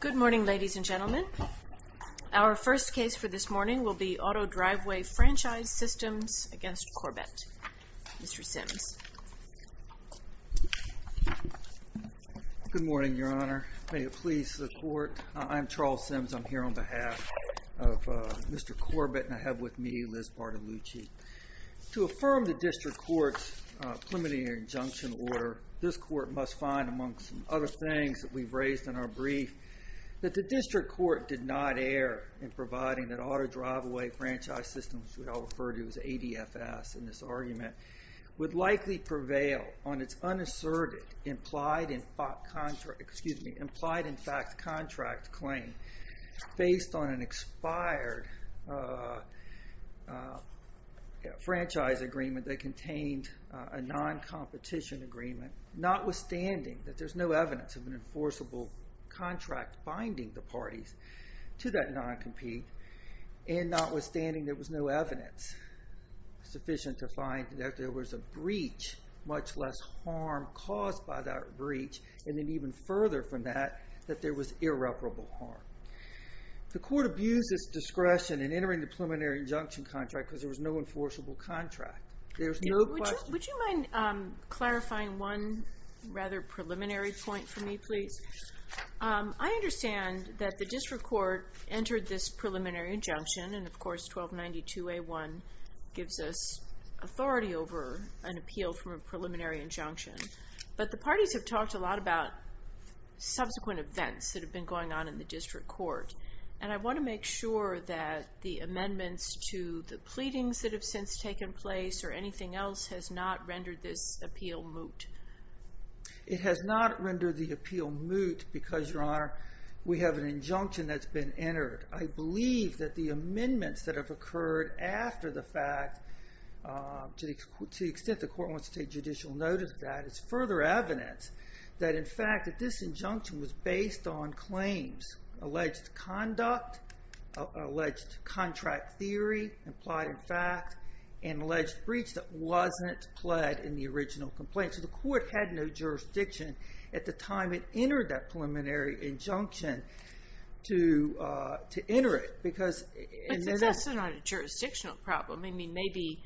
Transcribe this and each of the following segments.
Good morning ladies and gentlemen. Our first case for this morning will be Auto Driveway Franchise Systems v. Corbett. Mr. Sims. Good morning, Your Honor. May it please the court. I'm Charles Sims. I'm here on behalf of Mr. Corbett and I have with me Liz Bartolucci. To affirm the District Court's preliminary injunction order, this court must find amongst other things that we've heard in our brief, that the District Court did not err in providing that Auto Driveway Franchise Systems, which we all refer to as ADFS in this argument, would likely prevail on its unasserted implied in fact contract claim based on an expired franchise agreement that contained a non-competition agreement, notwithstanding that there's no evidence of an enforceable contract binding the parties to that non-compete, and notwithstanding there was no evidence sufficient to find that there was a breach, much less harm caused by that breach, and then even further from that, that there was irreparable harm. The court abused its discretion in entering the preliminary injunction contract because there was no enforceable contract. There's no question- I understand that the District Court entered this preliminary injunction and of course 1292A1 gives us authority over an appeal from a preliminary injunction, but the parties have talked a lot about subsequent events that have been going on in the District Court and I want to make sure that the amendments to the pleadings that have since taken place or anything else has not rendered this appeal moot. It has not rendered the appeal moot because, Your Honor, we have an injunction that's been entered. I believe that the amendments that have occurred after the fact, to the extent the court wants to take judicial notice of that, it's further evidence that in fact that this injunction was based on claims, alleged conduct, alleged contract theory, implied in fact, and alleged breach that wasn't pled in the original complaint. So the court had no jurisdiction at the time it entered that preliminary injunction to enter it because- But that's not a jurisdictional problem. I mean maybe,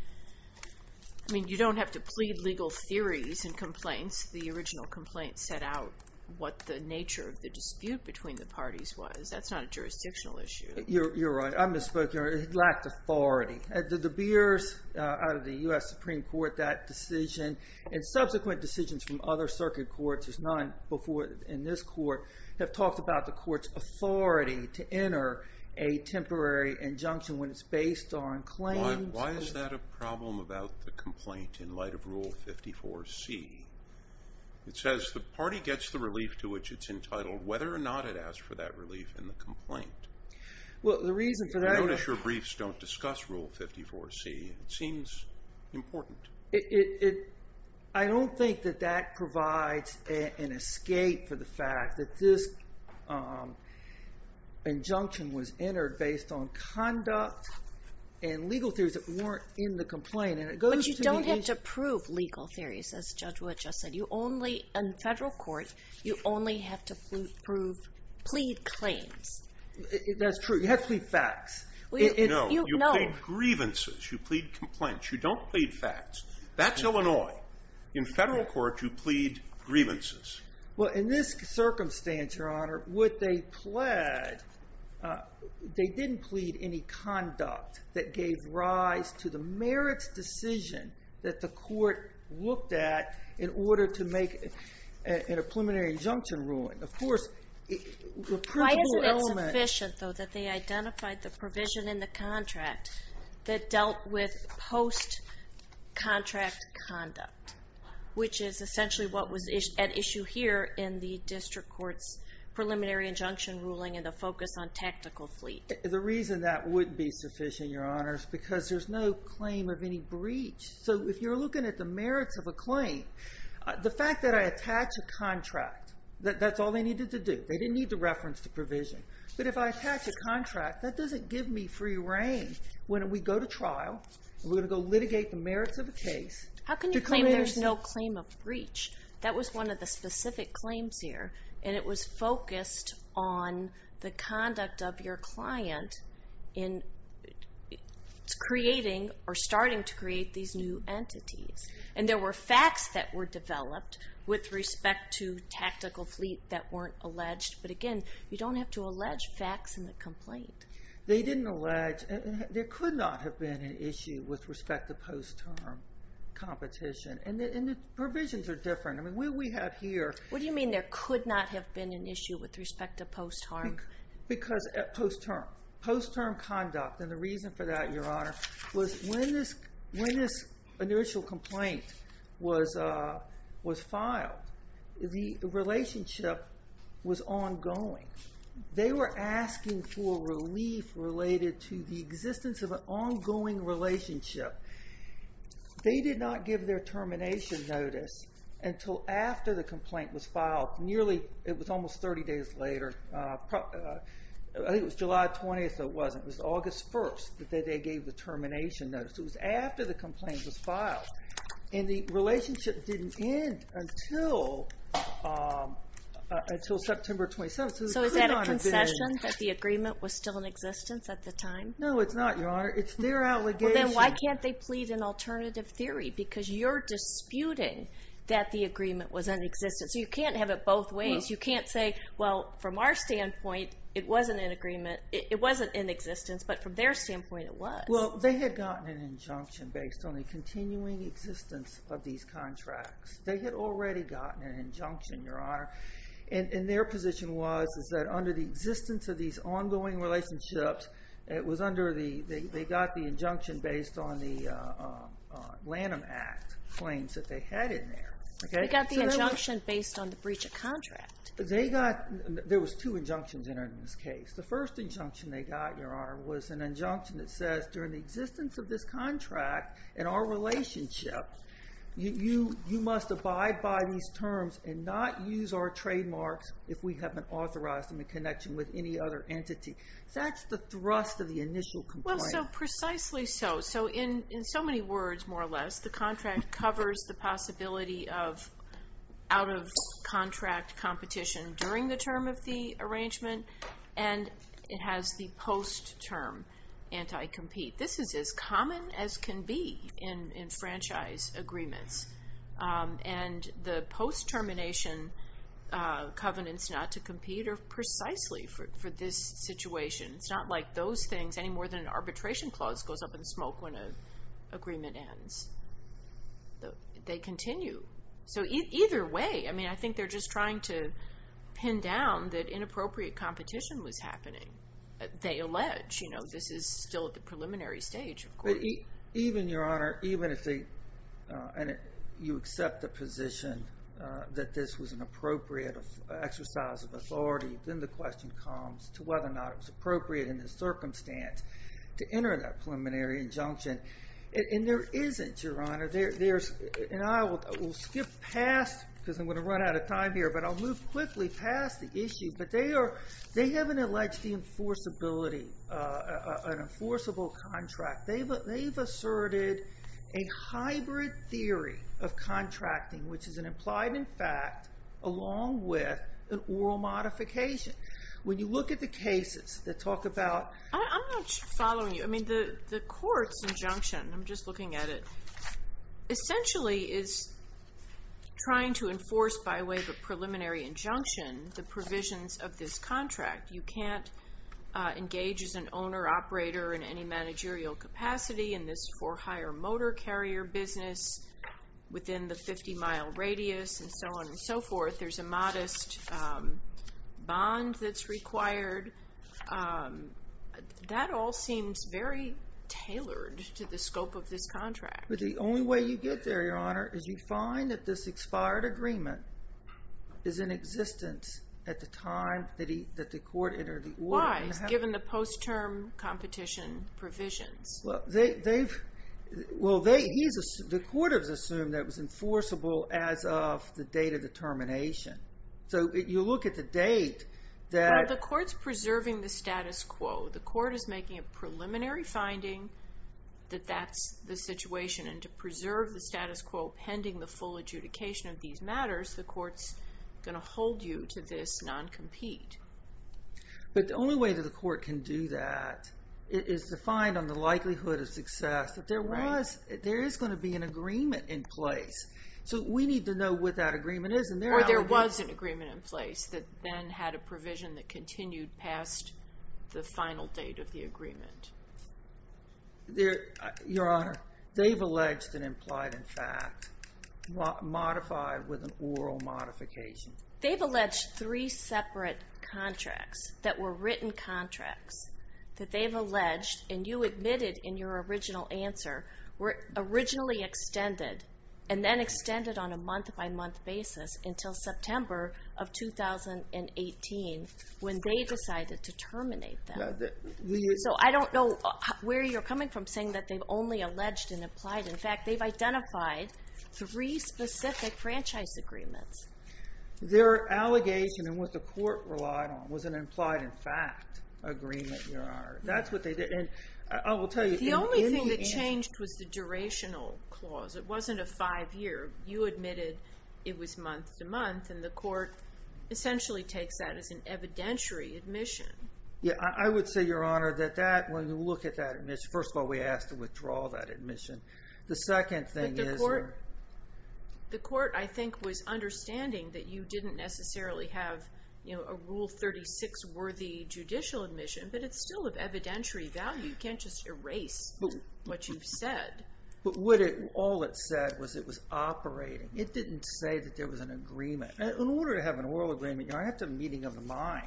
I mean you don't have to plead legal theories and complaints. The original complaint set out what the nature of the dispute between the parties was. That's not a jurisdictional issue. You're right. I misspoke. It lacked authority. The De Beers, out of the U.S. Supreme Court, that decision and subsequent decisions from other circuit courts, there's none before in this court, have talked about the court's authority to enter a temporary injunction when it's based on claims. Why is that a problem about the complaint in light of Rule 54C? It says the party gets the relief to which it's entitled whether or not it asked for that relief in the case. Well, the reason for that- I notice your briefs don't discuss Rule 54C. It seems important. I don't think that that provides an escape for the fact that this injunction was entered based on conduct and legal theories that weren't in the complaint and it goes- But you don't have to prove legal theories, as Judge Wood just said. You only, in federal court, you only have to prove, plead claims. That's true. You have to plead facts. No. You plead grievances. You plead complaints. You don't plead facts. That's Illinois. In federal court, you plead grievances. Well, in this circumstance, Your Honor, what they pled, they didn't plead any conduct that gave rise to the merits decision that the court looked at in order to make a preliminary injunction ruling. Of course, the principle element- Why isn't it sufficient, though, that they identified the provision in the contract that dealt with post-contract conduct, which is essentially what was at issue here in the district court's preliminary injunction ruling and the focus on tactical fleet? The reason that would be sufficient, Your Honor, is because there's no claim of any The fact that I attach a contract, that's all they needed to do. They didn't need to reference the provision. But if I attach a contract, that doesn't give me free reign. When we go to trial, we're going to go litigate the merits of a case- How can you claim there's no claim of breach? That was one of the specific claims here, and it was focused on the conduct of your client in creating or starting to create these new entities. And there were facts that were developed with respect to tactical fleet that weren't alleged. But again, you don't have to allege facts in the complaint. They didn't allege- There could not have been an issue with respect to post-term competition. And the provisions are different. I mean, what we have here- What do you mean there could not have been an issue with respect to post-term? Because post-term conduct, and the reason for that, Your Honor, was when this initial complaint was filed, the relationship was ongoing. They were asking for relief related to the existence of an ongoing relationship. They did not give their termination notice until after the complaint was filed. Nearly, it was almost 30 days later. I think it was July 20th or it wasn't. It was August 1st that they gave the termination notice. It was after the complaint was filed. And the relationship didn't end until September 27th. So is that a concession that the agreement was still in existence at the time? No, it's not, Your Honor. It's their allegation. Then why can't they plead an alternative theory? Because you're disputing that the agreement was in existence. So you can't have it both ways. You can't say, well, from our standpoint, it wasn't in existence. But from their standpoint, it was. Well, they had gotten an injunction based on the continuing existence of these contracts. They had already gotten an injunction, Your Honor. And their position was that under the existence of these ongoing relationships, they got the injunction based on the Lanham Act claims that they had in there. They got the injunction based on the breach of contract. There was two injunctions in this case. The first injunction they got, Your Honor, was an injunction that says, during the existence of this contract and our relationship, you must abide by these terms and not use our trademarks if we haven't authorized them in connection with any other entity. That's the thrust of the initial complaint. So precisely so. So in so many words, more or less, the contract covers the possibility of out-of-contract competition during the term of the arrangement. And it has the post-term anti-compete. This is as common as can be in franchise agreements. And the post-termination covenants not to compete are precisely for this situation. It's not like those things any more than an arbitration clause goes up in smoke when an agreement ends. They continue. So either way, I mean, I think they're just trying to pin down that inappropriate competition was happening. They allege, you know, this is still at the preliminary stage, of course. Even, Your Honor, even if you accept the position that this was an appropriate exercise of authority, then the question comes to whether or not it was appropriate in this circumstance to enter that preliminary injunction. And there isn't, Your Honor. And I will skip past, because I'm going to run out of time here, but I'll move quickly past the issue. But they haven't alleged the enforceability, an enforceable contract. They've asserted a hybrid theory of contracting, which is an implied and fact, along with an oral modification. When you look at the cases that talk about I'm not following you. I mean, the court's injunction, I'm just looking at it, essentially is trying to enforce by way of a preliminary injunction the provisions of this contract. You can't engage as an owner-operator in any managerial capacity in this for hire motor carrier business within the 50-mile radius and so on and so forth. But there's a modest bond that's required. That all seems very tailored to the scope of this contract. But the only way you get there, Your Honor, is you find that this expired agreement is in existence at the time that the court entered the order. Why, given the post-term competition provisions? Well, the court has assumed that it was enforceable as of the date of the termination. So you look at the date that Well, the court's preserving the status quo. The court is making a preliminary finding that that's the situation. And to preserve the status quo pending the full adjudication of these matters, the court's going to hold you to this non-compete. But the only way that the court can do that is to find on the likelihood of success that there is going to be an agreement in place. So we need to know what that agreement is. Or there was an agreement in place that then had a provision that continued past the final date of the agreement. Your Honor, they've alleged and implied, in fact, modified with an oral modification. They've alleged three separate contracts that were written contracts. That they've alleged, and you admitted in your original answer, were originally extended. And then extended on a month-by-month basis until September of 2018, when they decided to terminate them. So I don't know where you're coming from saying that they've only alleged and implied. In fact, they've identified three specific franchise agreements. Their allegation, and what the court relied on, was an implied-in-fact agreement, Your Honor. That's what they did. The only thing that changed was the durational clause. It wasn't a five-year. You admitted it was month-to-month, and the court essentially takes that as an evidentiary admission. Yeah, I would say, Your Honor, that when you look at that admission, first of all, we asked to withdraw that admission. The second thing is... But the court, I think, was understanding that you didn't necessarily have a Rule 36-worthy judicial admission. But it's still of evidentiary value. You can't just erase what you've said. But all it said was it was operating. It didn't say that there was an agreement. In order to have an oral agreement, you have to have a meeting of the mind.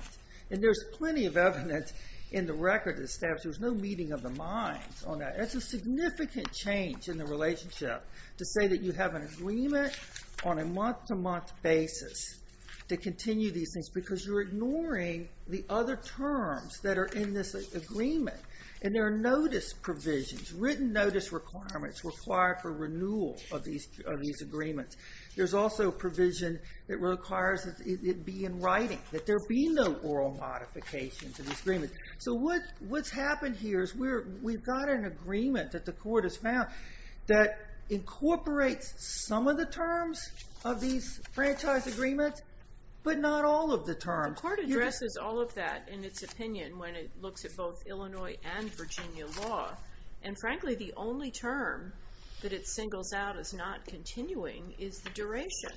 And there's plenty of evidence in the record that establishes there's no meeting of the mind on that. It's a significant change in the relationship to say that you have an agreement on a month-to-month basis to continue these things, because you're ignoring the other terms that are in this agreement. And there are notice provisions, written notice requirements required for renewal of these agreements. There's also provision that requires it be in writing, that there be no oral modification to this agreement. So what's happened here is we've got an agreement that the court has found that incorporates some of the terms of these franchise agreements, but not all of the terms. The court addresses all of that in its opinion when it looks at both Illinois and Virginia law. And frankly, the only term that it singles out as not continuing is the duration.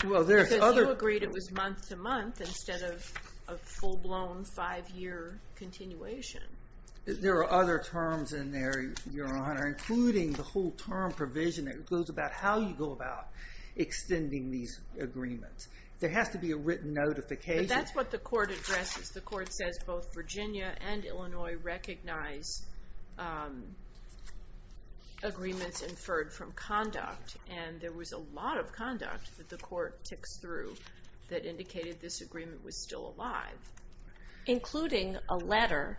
Because you agreed it was month-to-month instead of a full-blown five-year continuation. There are other terms in there, Your Honor, including the whole term provision that goes about how you go about extending these agreements. There has to be a written notification. But that's what the court addresses. The court says both Virginia and Illinois recognize agreements inferred from conduct. And there was a lot of conduct that the court ticks through that indicated this agreement was still alive. Including a letter,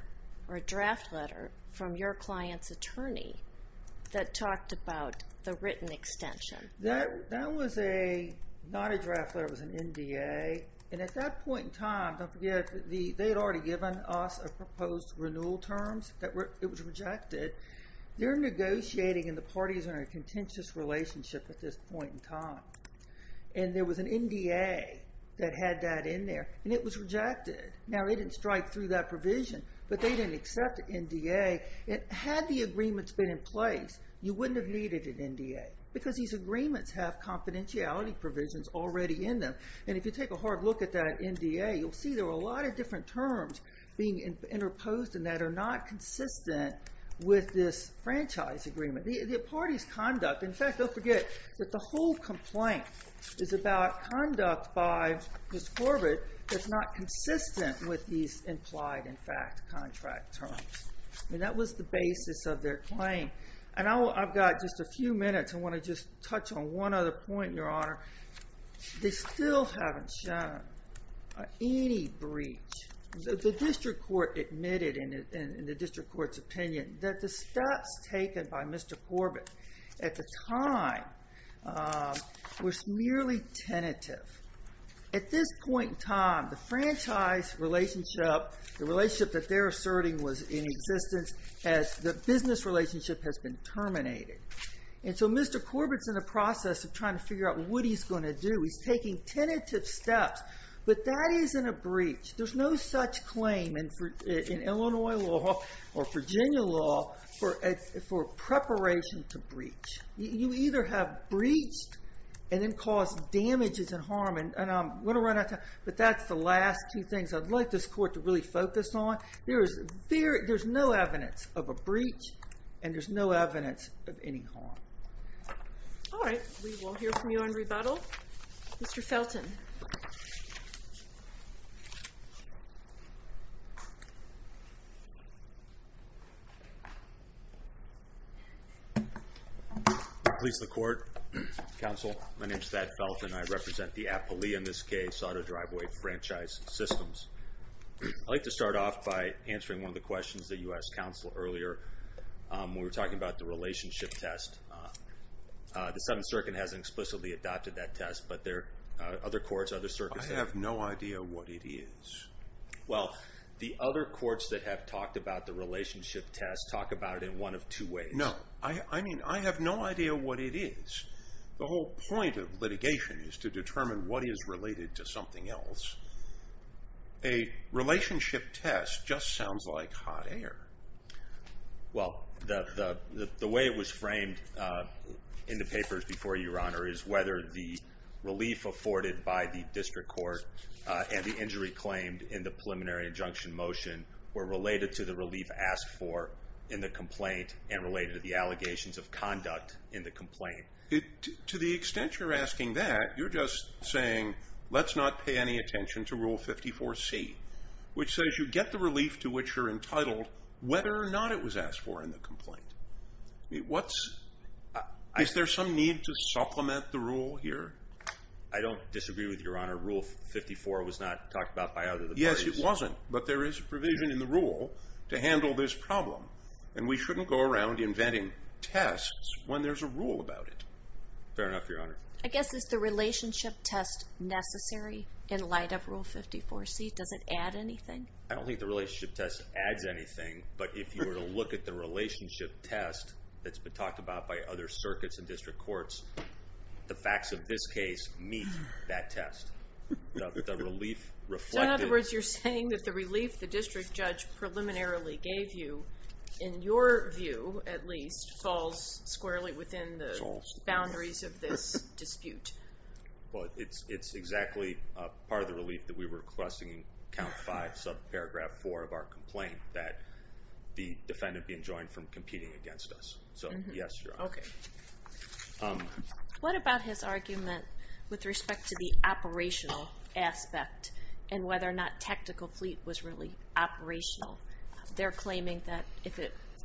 or a draft letter, from your client's attorney that talked about the written extension. That was not a draft letter. It was an NDA. And at that point in time, don't forget, they had already given us a proposed renewal terms. It was rejected. They're negotiating, and the parties are in a contentious relationship at this point in time. And there was an NDA that had that in there. And it was rejected. Now, it didn't strike through that provision. But they didn't accept NDA. Had the agreements been in place, you wouldn't have needed an NDA. Because these agreements have confidentiality provisions already in them. And if you take a hard look at that NDA, you'll see there are a lot of different terms being interposed and that are not consistent with this franchise agreement. The parties' conduct, in fact, don't forget that the whole complaint is about conduct by Miss Corbett that's not consistent with these implied, in fact, contract terms. And that was the basis of their claim. And I've got just a few minutes. I want to just touch on one other point, Your Honor. They still haven't shown any breach. The district court admitted, in the district court's opinion, that the steps taken by Mr. Corbett at the time were merely tentative. At this point in time, the franchise relationship, the relationship that they're asserting was in existence, the business relationship has been terminated. And so Mr. Corbett's in the process of trying to figure out what he's going to do. He's taking tentative steps. But that isn't a breach. There's no such claim in Illinois law or Virginia law for preparation to breach. You either have breached and then caused damages and harm. And I'm going to run out of time, but that's the last two things I'd like this court to really focus on. There's no evidence of a breach, and there's no evidence of any harm. All right. We will hear from you on rebuttal. Mr. Felton. Please, the court, counsel. My name is Thad Felton. I represent the Appalachian, in this case, auto driveway franchise systems. I'd like to start off by answering one of the questions that you asked counsel earlier. We were talking about the relationship test. The Seventh Circuit hasn't explicitly adopted that test, but there are other courts, other circuits. I have no idea what it is. Well, the other courts that have talked about the relationship test talk about it in one of two ways. No. I mean, I have no idea what it is. The whole point of litigation is to determine what is related to something else. A relationship test just sounds like hot air. Well, the way it was framed in the papers before your honor is whether the relief afforded by the district court and the injury claimed in the preliminary injunction motion were related to the relief asked for in the complaint and related to the allegations of conduct in the complaint. To the extent you're asking that, you're just saying let's not pay any attention to Rule 54C, which says you get the relief to which you're entitled whether or not it was asked for in the complaint. Is there some need to supplement the rule here? I don't disagree with your honor. Rule 54 was not talked about by other parties. Yes, it wasn't, but there is a provision in the rule to handle this problem, and we shouldn't go around inventing tests when there's a rule about it. Fair enough, your honor. I guess is the relationship test necessary in light of Rule 54C? Does it add anything? I don't think the relationship test adds anything, but if you were to look at the relationship test that's been talked about by other circuits and district courts, the facts of this case meet that test. In other words, you're saying that the relief the district judge preliminarily gave you, in your view at least, falls squarely within the boundaries of this dispute. It's exactly part of the relief that we were requesting in Count 5, subparagraph 4 of our complaint, that the defendant be enjoined from competing against us. So, yes, your honor. What about his argument with respect to the operational aspect and whether or not tactical fleet was really operational? They're claiming that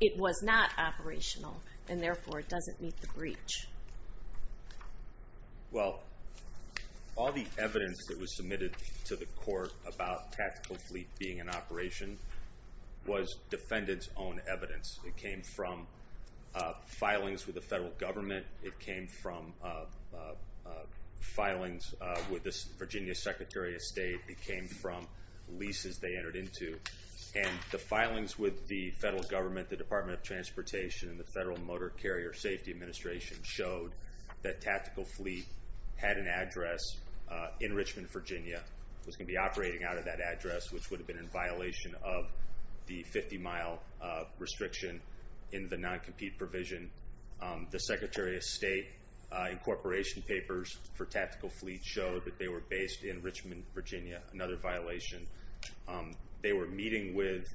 it was not operational, and therefore it doesn't meet the breach. Well, all the evidence that was submitted to the court about tactical fleet being in operation was defendant's own evidence. It came from filings with the federal government. It came from filings with the Virginia Secretary of State. It came from leases they entered into. And the filings with the federal government, the Department of Transportation, and the Federal Motor Carrier Safety Administration showed that tactical fleet had an address in Richmond, Virginia, was going to be operating out of that address, which would have been in violation of the 50-mile restriction in the non-compete provision. The Secretary of State incorporation papers for tactical fleet showed that they were based in Richmond, Virginia, another violation. They were meeting with,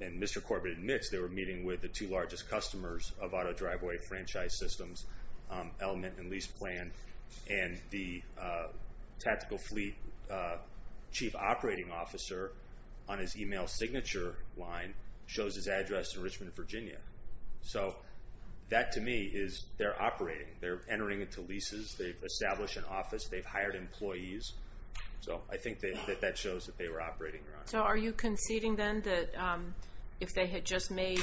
and Mr. Corbett admits, they were meeting with the two largest customers of auto driveway franchise systems, Element and Lease Plan. And the tactical fleet chief operating officer, on his email signature line, shows his address in Richmond, Virginia. So that, to me, is they're operating. They're entering into leases. They've established an office. They've hired employees. So I think that shows that they were operating, Your Honor. So are you conceding then that if they had just made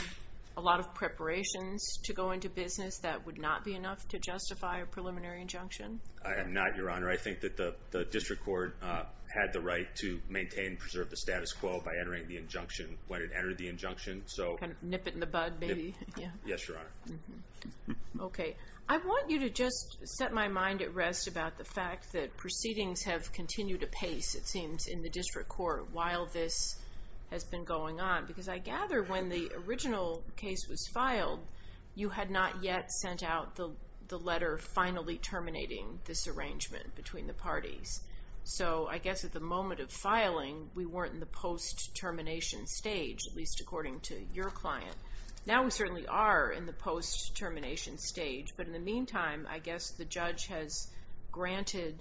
a lot of preparations to go into business, that would not be enough to justify a preliminary injunction? I am not, Your Honor. I think that the district court had the right to maintain and preserve the status quo by entering the injunction when it entered the injunction. Kind of nip it in the bud, maybe. Yes, Your Honor. Okay. I want you to just set my mind at rest about the fact that proceedings have continued apace, it seems, in the district court while this has been going on. Because I gather when the original case was filed, you had not yet sent out the letter finally terminating this arrangement between the parties. So I guess at the moment of filing, we weren't in the post-termination stage, at least according to your client. Now we certainly are in the post-termination stage. But in the meantime, I guess the judge has granted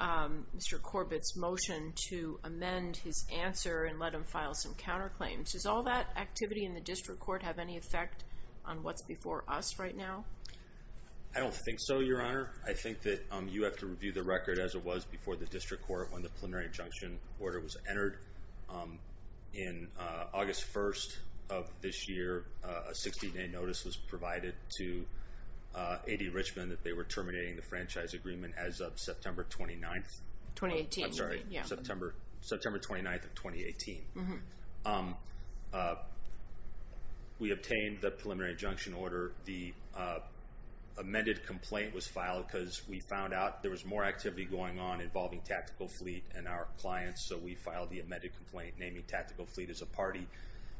Mr. Corbett's motion to amend his answer and let him file some counterclaims. Does all that activity in the district court have any effect on what's before us right now? I don't think so, Your Honor. Your Honor, I think that you have to review the record as it was before the district court when the preliminary injunction order was entered. In August 1st of this year, a 60-day notice was provided to AD Richmond that they were terminating the franchise agreement as of September 29th. 2018. I'm sorry. September 29th of 2018. We obtained the preliminary injunction order. The amended complaint was filed because we found out there was more activity going on involving Tactical Fleet and our clients. So we filed the amended complaint naming Tactical Fleet as a party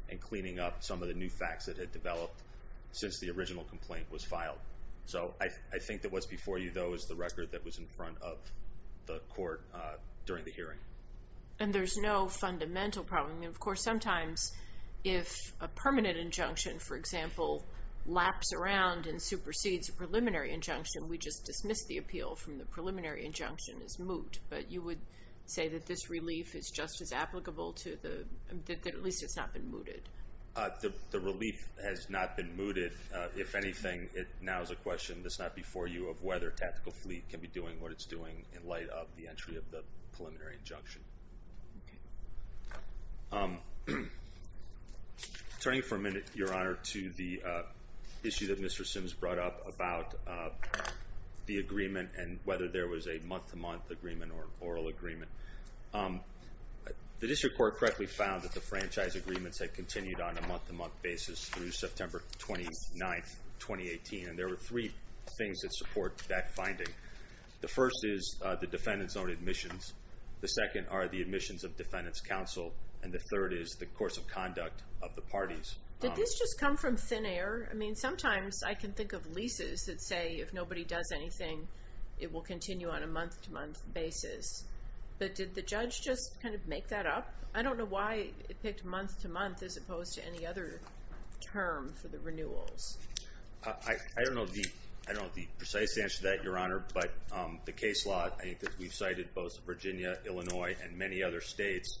and cleaning up some of the new facts that had developed since the original complaint was filed. So I think that what's before you, though, is the record that was in front of the court during the hearing. And there's no fundamental problem. Of course, sometimes if a permanent injunction, for example, laps around and supersedes a preliminary injunction, we just dismiss the appeal from the preliminary injunction as moot. But you would say that this relief is just as applicable to the – that at least it's not been mooted. The relief has not been mooted. If anything, it now is a question that's not before you of whether Tactical Fleet can be doing what it's doing in light of the entry of the preliminary injunction. Turning for a minute, Your Honor, to the issue that Mr. Sims brought up about the agreement and whether there was a month-to-month agreement or oral agreement. The district court correctly found that the franchise agreements had continued on a month-to-month basis through September 29, 2018. And there were three things that support that finding. The first is the defendant's own admissions. The second are the admissions of defendant's counsel. And the third is the course of conduct of the parties. Did this just come from thin air? I mean, sometimes I can think of leases that say if nobody does anything, it will continue on a month-to-month basis. But did the judge just kind of make that up? I don't know why it picked month-to-month as opposed to any other term for the renewals. I don't know the precise answer to that, Your Honor. But the case law, I think that we've cited both Virginia, Illinois, and many other states,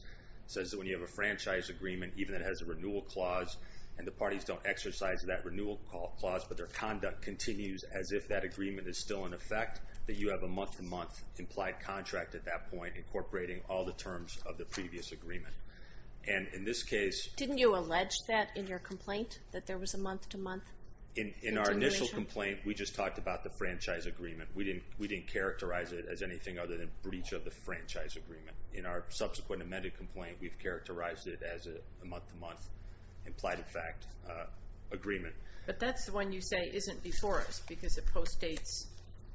says that when you have a franchise agreement, even if it has a renewal clause, and the parties don't exercise that renewal clause, but their conduct continues as if that agreement is still in effect, that you have a month-to-month implied contract at that point incorporating all the terms of the previous agreement. And in this case... Didn't you allege that in your complaint, that there was a month-to-month continuation? In our initial complaint, we just talked about the franchise agreement. We didn't characterize it as anything other than breach of the franchise agreement. In our subsequent amended complaint, we've characterized it as a month-to-month implied-in-fact agreement. But that's the one you say isn't before us because it postdates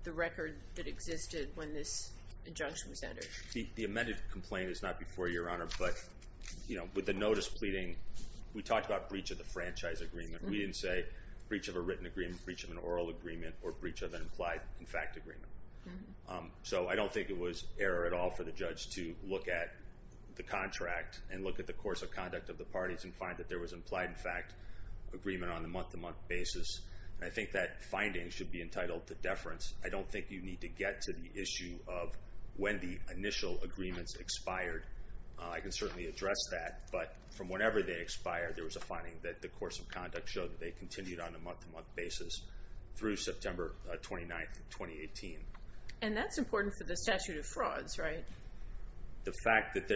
the record that existed when this injunction was entered. The amended complaint is not before you, Your Honor, but with the notice pleading, we talked about breach of the franchise agreement. We didn't say breach of a written agreement, breach of an oral agreement, or breach of an implied-in-fact agreement. So I don't think it was error at all for the judge to look at the contract and look at the course of conduct of the parties and find that there was an implied-in-fact agreement on a month-to-month basis. And I think that finding should be entitled to deference. I don't think you need to get to the issue of when the initial agreements expired. I can certainly address that, but from whenever they expired, there was a finding that the course of conduct showed that they continued on a month-to-month basis through September 29, 2018. And that's important for the statute of frauds, right? The fact that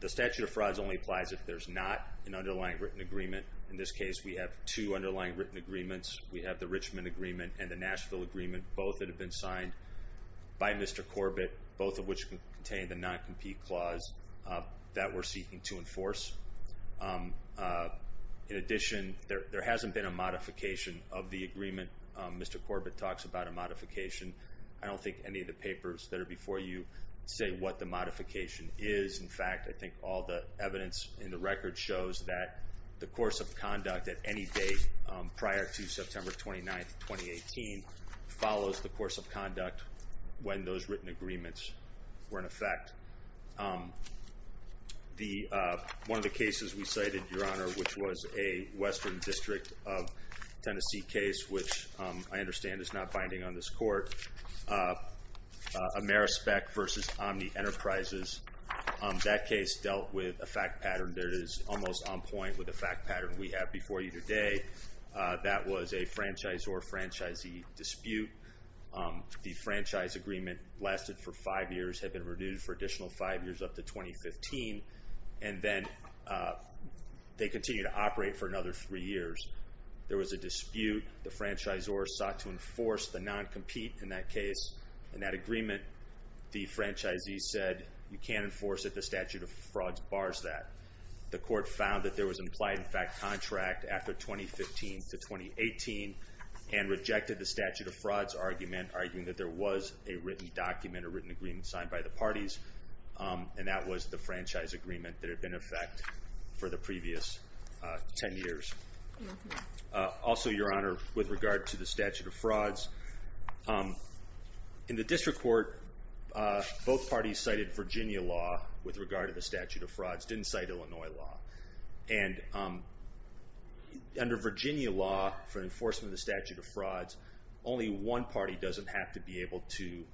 the statute of frauds only applies if there's not an underlying written agreement. In this case, we have two underlying written agreements. We have the Richmond Agreement and the Nashville Agreement, both that have been signed by Mr. Corbett, both of which contain the non-compete clause that we're seeking to enforce. In addition, there hasn't been a modification of the agreement. Mr. Corbett talks about a modification. I don't think any of the papers that are before you say what the modification is. In fact, I think all the evidence in the record shows that the course of conduct at any date prior to September 29, 2018, follows the course of conduct when those written agreements were in effect. One of the cases we cited, Your Honor, which was a Western District of Tennessee case, which I understand is not binding on this court, Amerispec versus Omni Enterprises. That case dealt with a fact pattern that is almost on point with the fact pattern we have before you today. That was a franchisor-franchisee dispute. The franchise agreement lasted for five years, had been renewed for additional five years up to 2015, and then they continued to operate for another three years. There was a dispute. The franchisor sought to enforce the non-compete in that case. In that agreement, the franchisee said you can't enforce it. The statute of frauds bars that. The court found that there was implied in fact contract after 2015 to 2018 and rejected the statute of frauds argument, arguing that there was a written document, a written agreement signed by the parties, and that was the franchise agreement that had been in effect for the previous ten years. Also, Your Honor, with regard to the statute of frauds, in the district court both parties cited Virginia law with regard to the statute of frauds, didn't cite Illinois law. And under Virginia law for enforcement of the statute of frauds, only one party doesn't have to be able to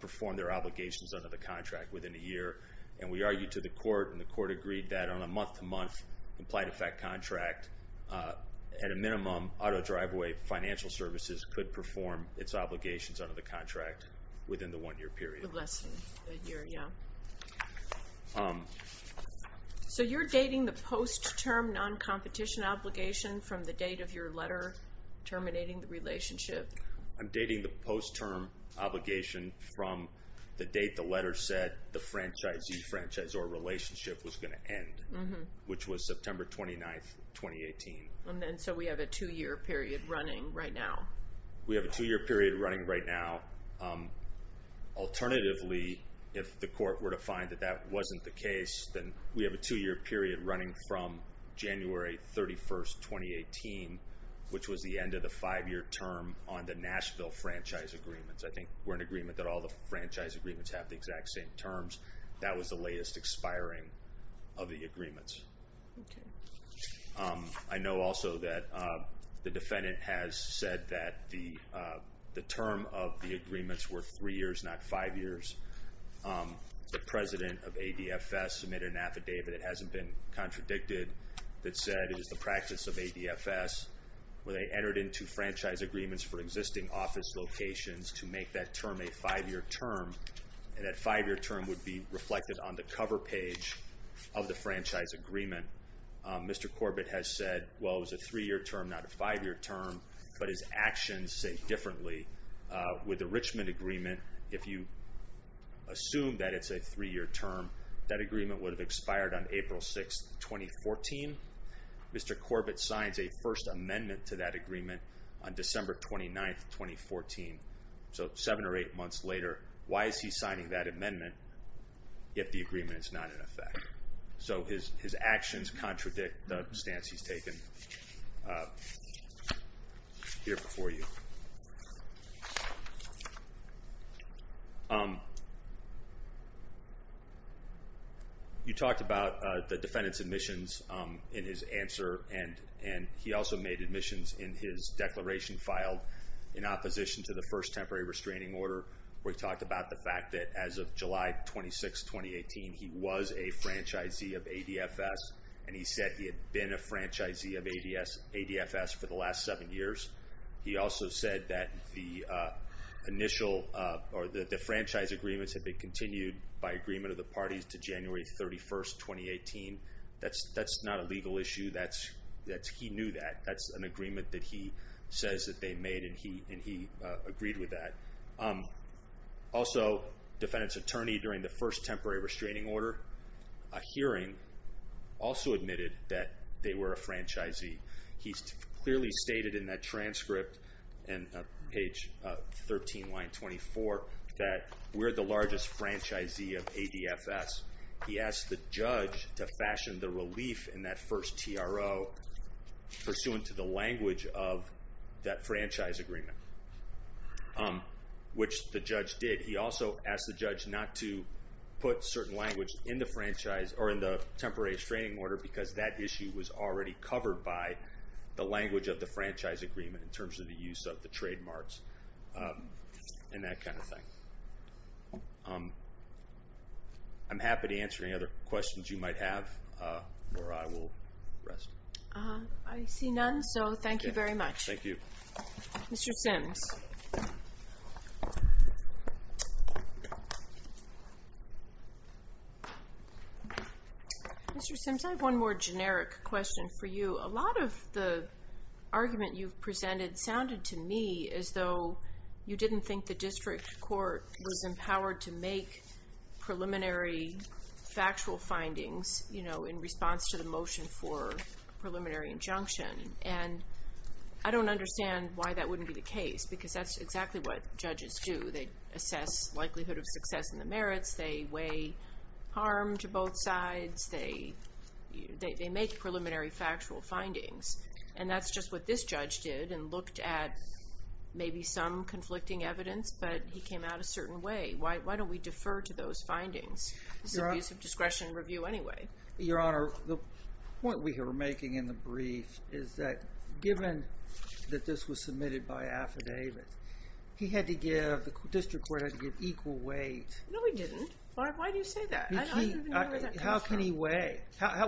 perform their obligations under the contract within a year. And we argued to the court, and the court agreed that on a month-to-month implied effect contract, at a minimum, auto driveway financial services could perform its obligations under the contract within the one-year period. Less than a year, yeah. So you're dating the post-term non-competition obligation from the date of your letter terminating the relationship? I'm dating the post-term obligation from the date the letter said the franchisee-franchisor relationship was going to end, which was September 29th, 2018. And then so we have a two-year period running right now? We have a two-year period running right now. Alternatively, if the court were to find that that wasn't the case, then we have a two-year period running from January 31st, 2018, which was the end of the five-year term on the Nashville franchise agreements. I think we're in agreement that all the franchise agreements have the exact same terms. That was the latest expiring of the agreements. Okay. I know also that the defendant has said that the term of the agreements were three years, not five years. The president of ADFS submitted an affidavit that hasn't been contradicted that said it is the practice of ADFS where they entered into franchise agreements for existing office locations to make that term a five-year term, and that five-year term would be reflected on the cover page of the franchise agreement. Mr. Corbett has said, well, it was a three-year term, not a five-year term, but his actions say differently. With the Richmond agreement, if you assume that it's a three-year term, that agreement would have expired on April 6th, 2014. Mr. Corbett signs a First Amendment to that agreement on December 29th, 2014. So seven or eight months later, why is he signing that amendment if the agreement is not in effect? So his actions contradict the stance he's taken here before you. You talked about the defendant's admissions in his answer, and he also made admissions in his declaration filed in opposition to the first temporary restraining order where he talked about the fact that as of July 26th, 2018, he was a franchisee of ADFS, and he said he had been a franchisee of ADFS for the last seven years. He also said that the franchise agreements had been continued by agreement of the parties to January 31st, 2018. That's not a legal issue. He knew that. That's an agreement that he says that they made, and he agreed with that. Also, defendant's attorney during the first temporary restraining order, a hearing, also admitted that they were a franchisee. He clearly stated in that transcript, in page 13, line 24, that we're the largest franchisee of ADFS. He asked the judge to fashion the relief in that first TRO pursuant to the language of that franchise agreement. Which the judge did. He also asked the judge not to put certain language in the franchise or in the temporary restraining order because that issue was already covered by the language of the franchise agreement in terms of the use of the trademarks and that kind of thing. I'm happy to answer any other questions you might have, or I will rest. I see none, so thank you very much. Thank you. Mr. Sims. Mr. Sims, I have one more generic question for you. A lot of the argument you've presented sounded to me as though you didn't think the district court was empowered to make preliminary factual findings in response to the motion for preliminary injunction. And I don't understand why that wouldn't be the case because that's exactly what judges do. They assess likelihood of success in the merits. They weigh harm to both sides. They make preliminary factual findings. And that's just what this judge did and looked at maybe some conflicting evidence, but he came out a certain way. Why don't we defer to those findings? It's an abuse of discretion review anyway. Your Honor, the point we were making in the brief is that given that this was submitted by affidavit, he had to give, the district court had to give equal weight. No, we didn't. Why do you say that? How can he weigh?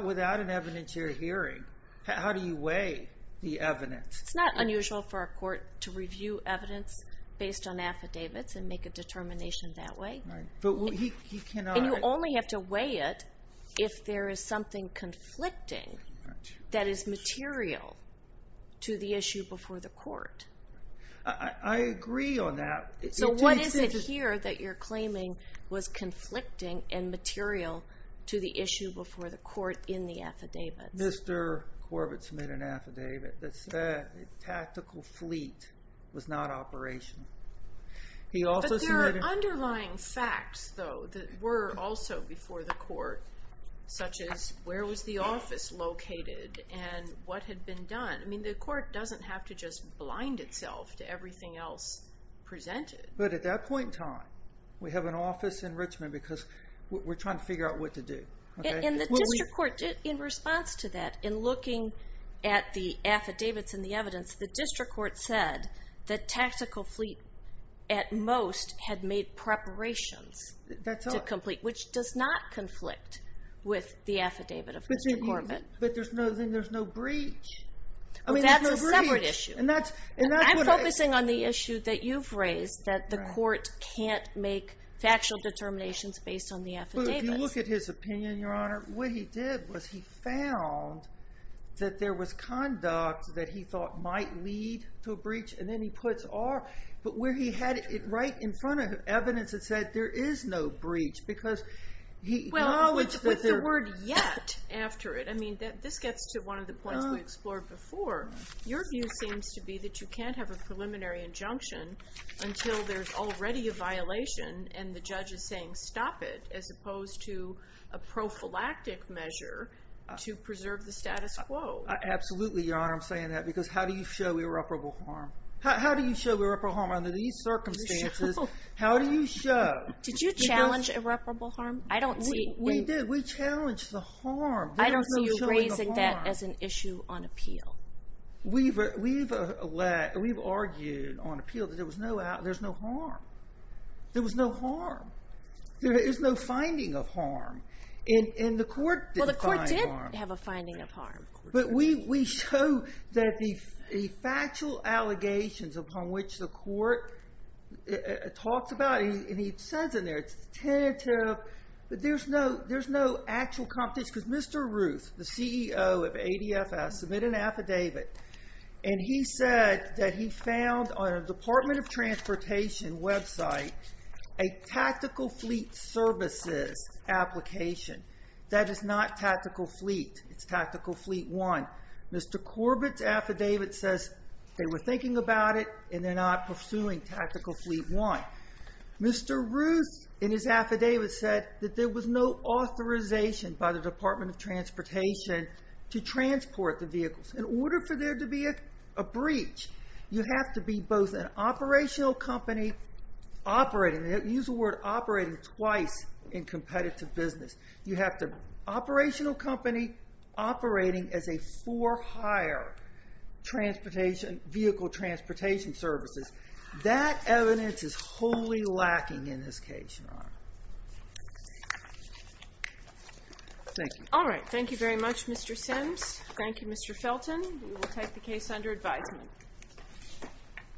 Without an evidentiary hearing, how do you weigh the evidence? It's not unusual for a court to review evidence based on affidavits and make a determination that way. And you only have to weigh it if there is something conflicting that is material to the issue before the court. I agree on that. So what is it here that you're claiming was conflicting and material to the issue before the court in the affidavit? Mr. Corbett submitted an affidavit that said the tactical fleet was not operational. But there are underlying facts, though, that were also before the court, such as where was the office located and what had been done. I mean, the court doesn't have to just blind itself to everything else presented. But at that point in time, we have an office in Richmond because we're trying to figure out what to do. In the district court, in response to that, in looking at the affidavits and the evidence, the district court said the tactical fleet at most had made preparations to complete, which does not conflict with the affidavit of Mr. Corbett. But there's no breach. That's a separate issue. I'm focusing on the issue that you've raised, that the court can't make factual determinations based on the affidavits. If you look at his opinion, Your Honor, what he did was he found that there was conduct that he thought might lead to a breach, and then he puts R. But where he had it right in front of evidence that said there is no breach because he acknowledged that there... Well, with the word yet after it. I mean, this gets to one of the points we explored before. Your view seems to be that you can't have a preliminary injunction until there's already a violation and the judge is saying stop it as opposed to a prophylactic measure to preserve the status quo. Absolutely, Your Honor. I'm saying that because how do you show irreparable harm? How do you show irreparable harm under these circumstances? How do you show? Did you challenge irreparable harm? I don't see... We did. We challenged the harm. I don't see you raising that as an issue on appeal. We've argued on appeal that there's no harm. There was no harm. There is no finding of harm, and the court did find harm. Well, the court did have a finding of harm. But we show that the factual allegations upon which the court talks about, and he says in there, it's tentative, but there's no actual competition because Mr. Ruth, the CEO of ADFS, submitted an affidavit, and he said that he found on a Department of Transportation website a tactical fleet services application. That is not tactical fleet. It's tactical fleet one. Mr. Corbett's affidavit says they were thinking about it, and they're not pursuing tactical fleet one. Mr. Ruth, in his affidavit, said that there was no authorization by the Department of Transportation to transport the vehicles. In order for there to be a breach, you have to be both an operational company operating. Use the word operating twice in competitive business. You have the operational company operating as a for hire vehicle transportation services. That evidence is wholly lacking in this case, Your Honor. Thank you. All right. Thank you very much, Mr. Sims. Thank you, Mr. Felton. We will take the case under advisement.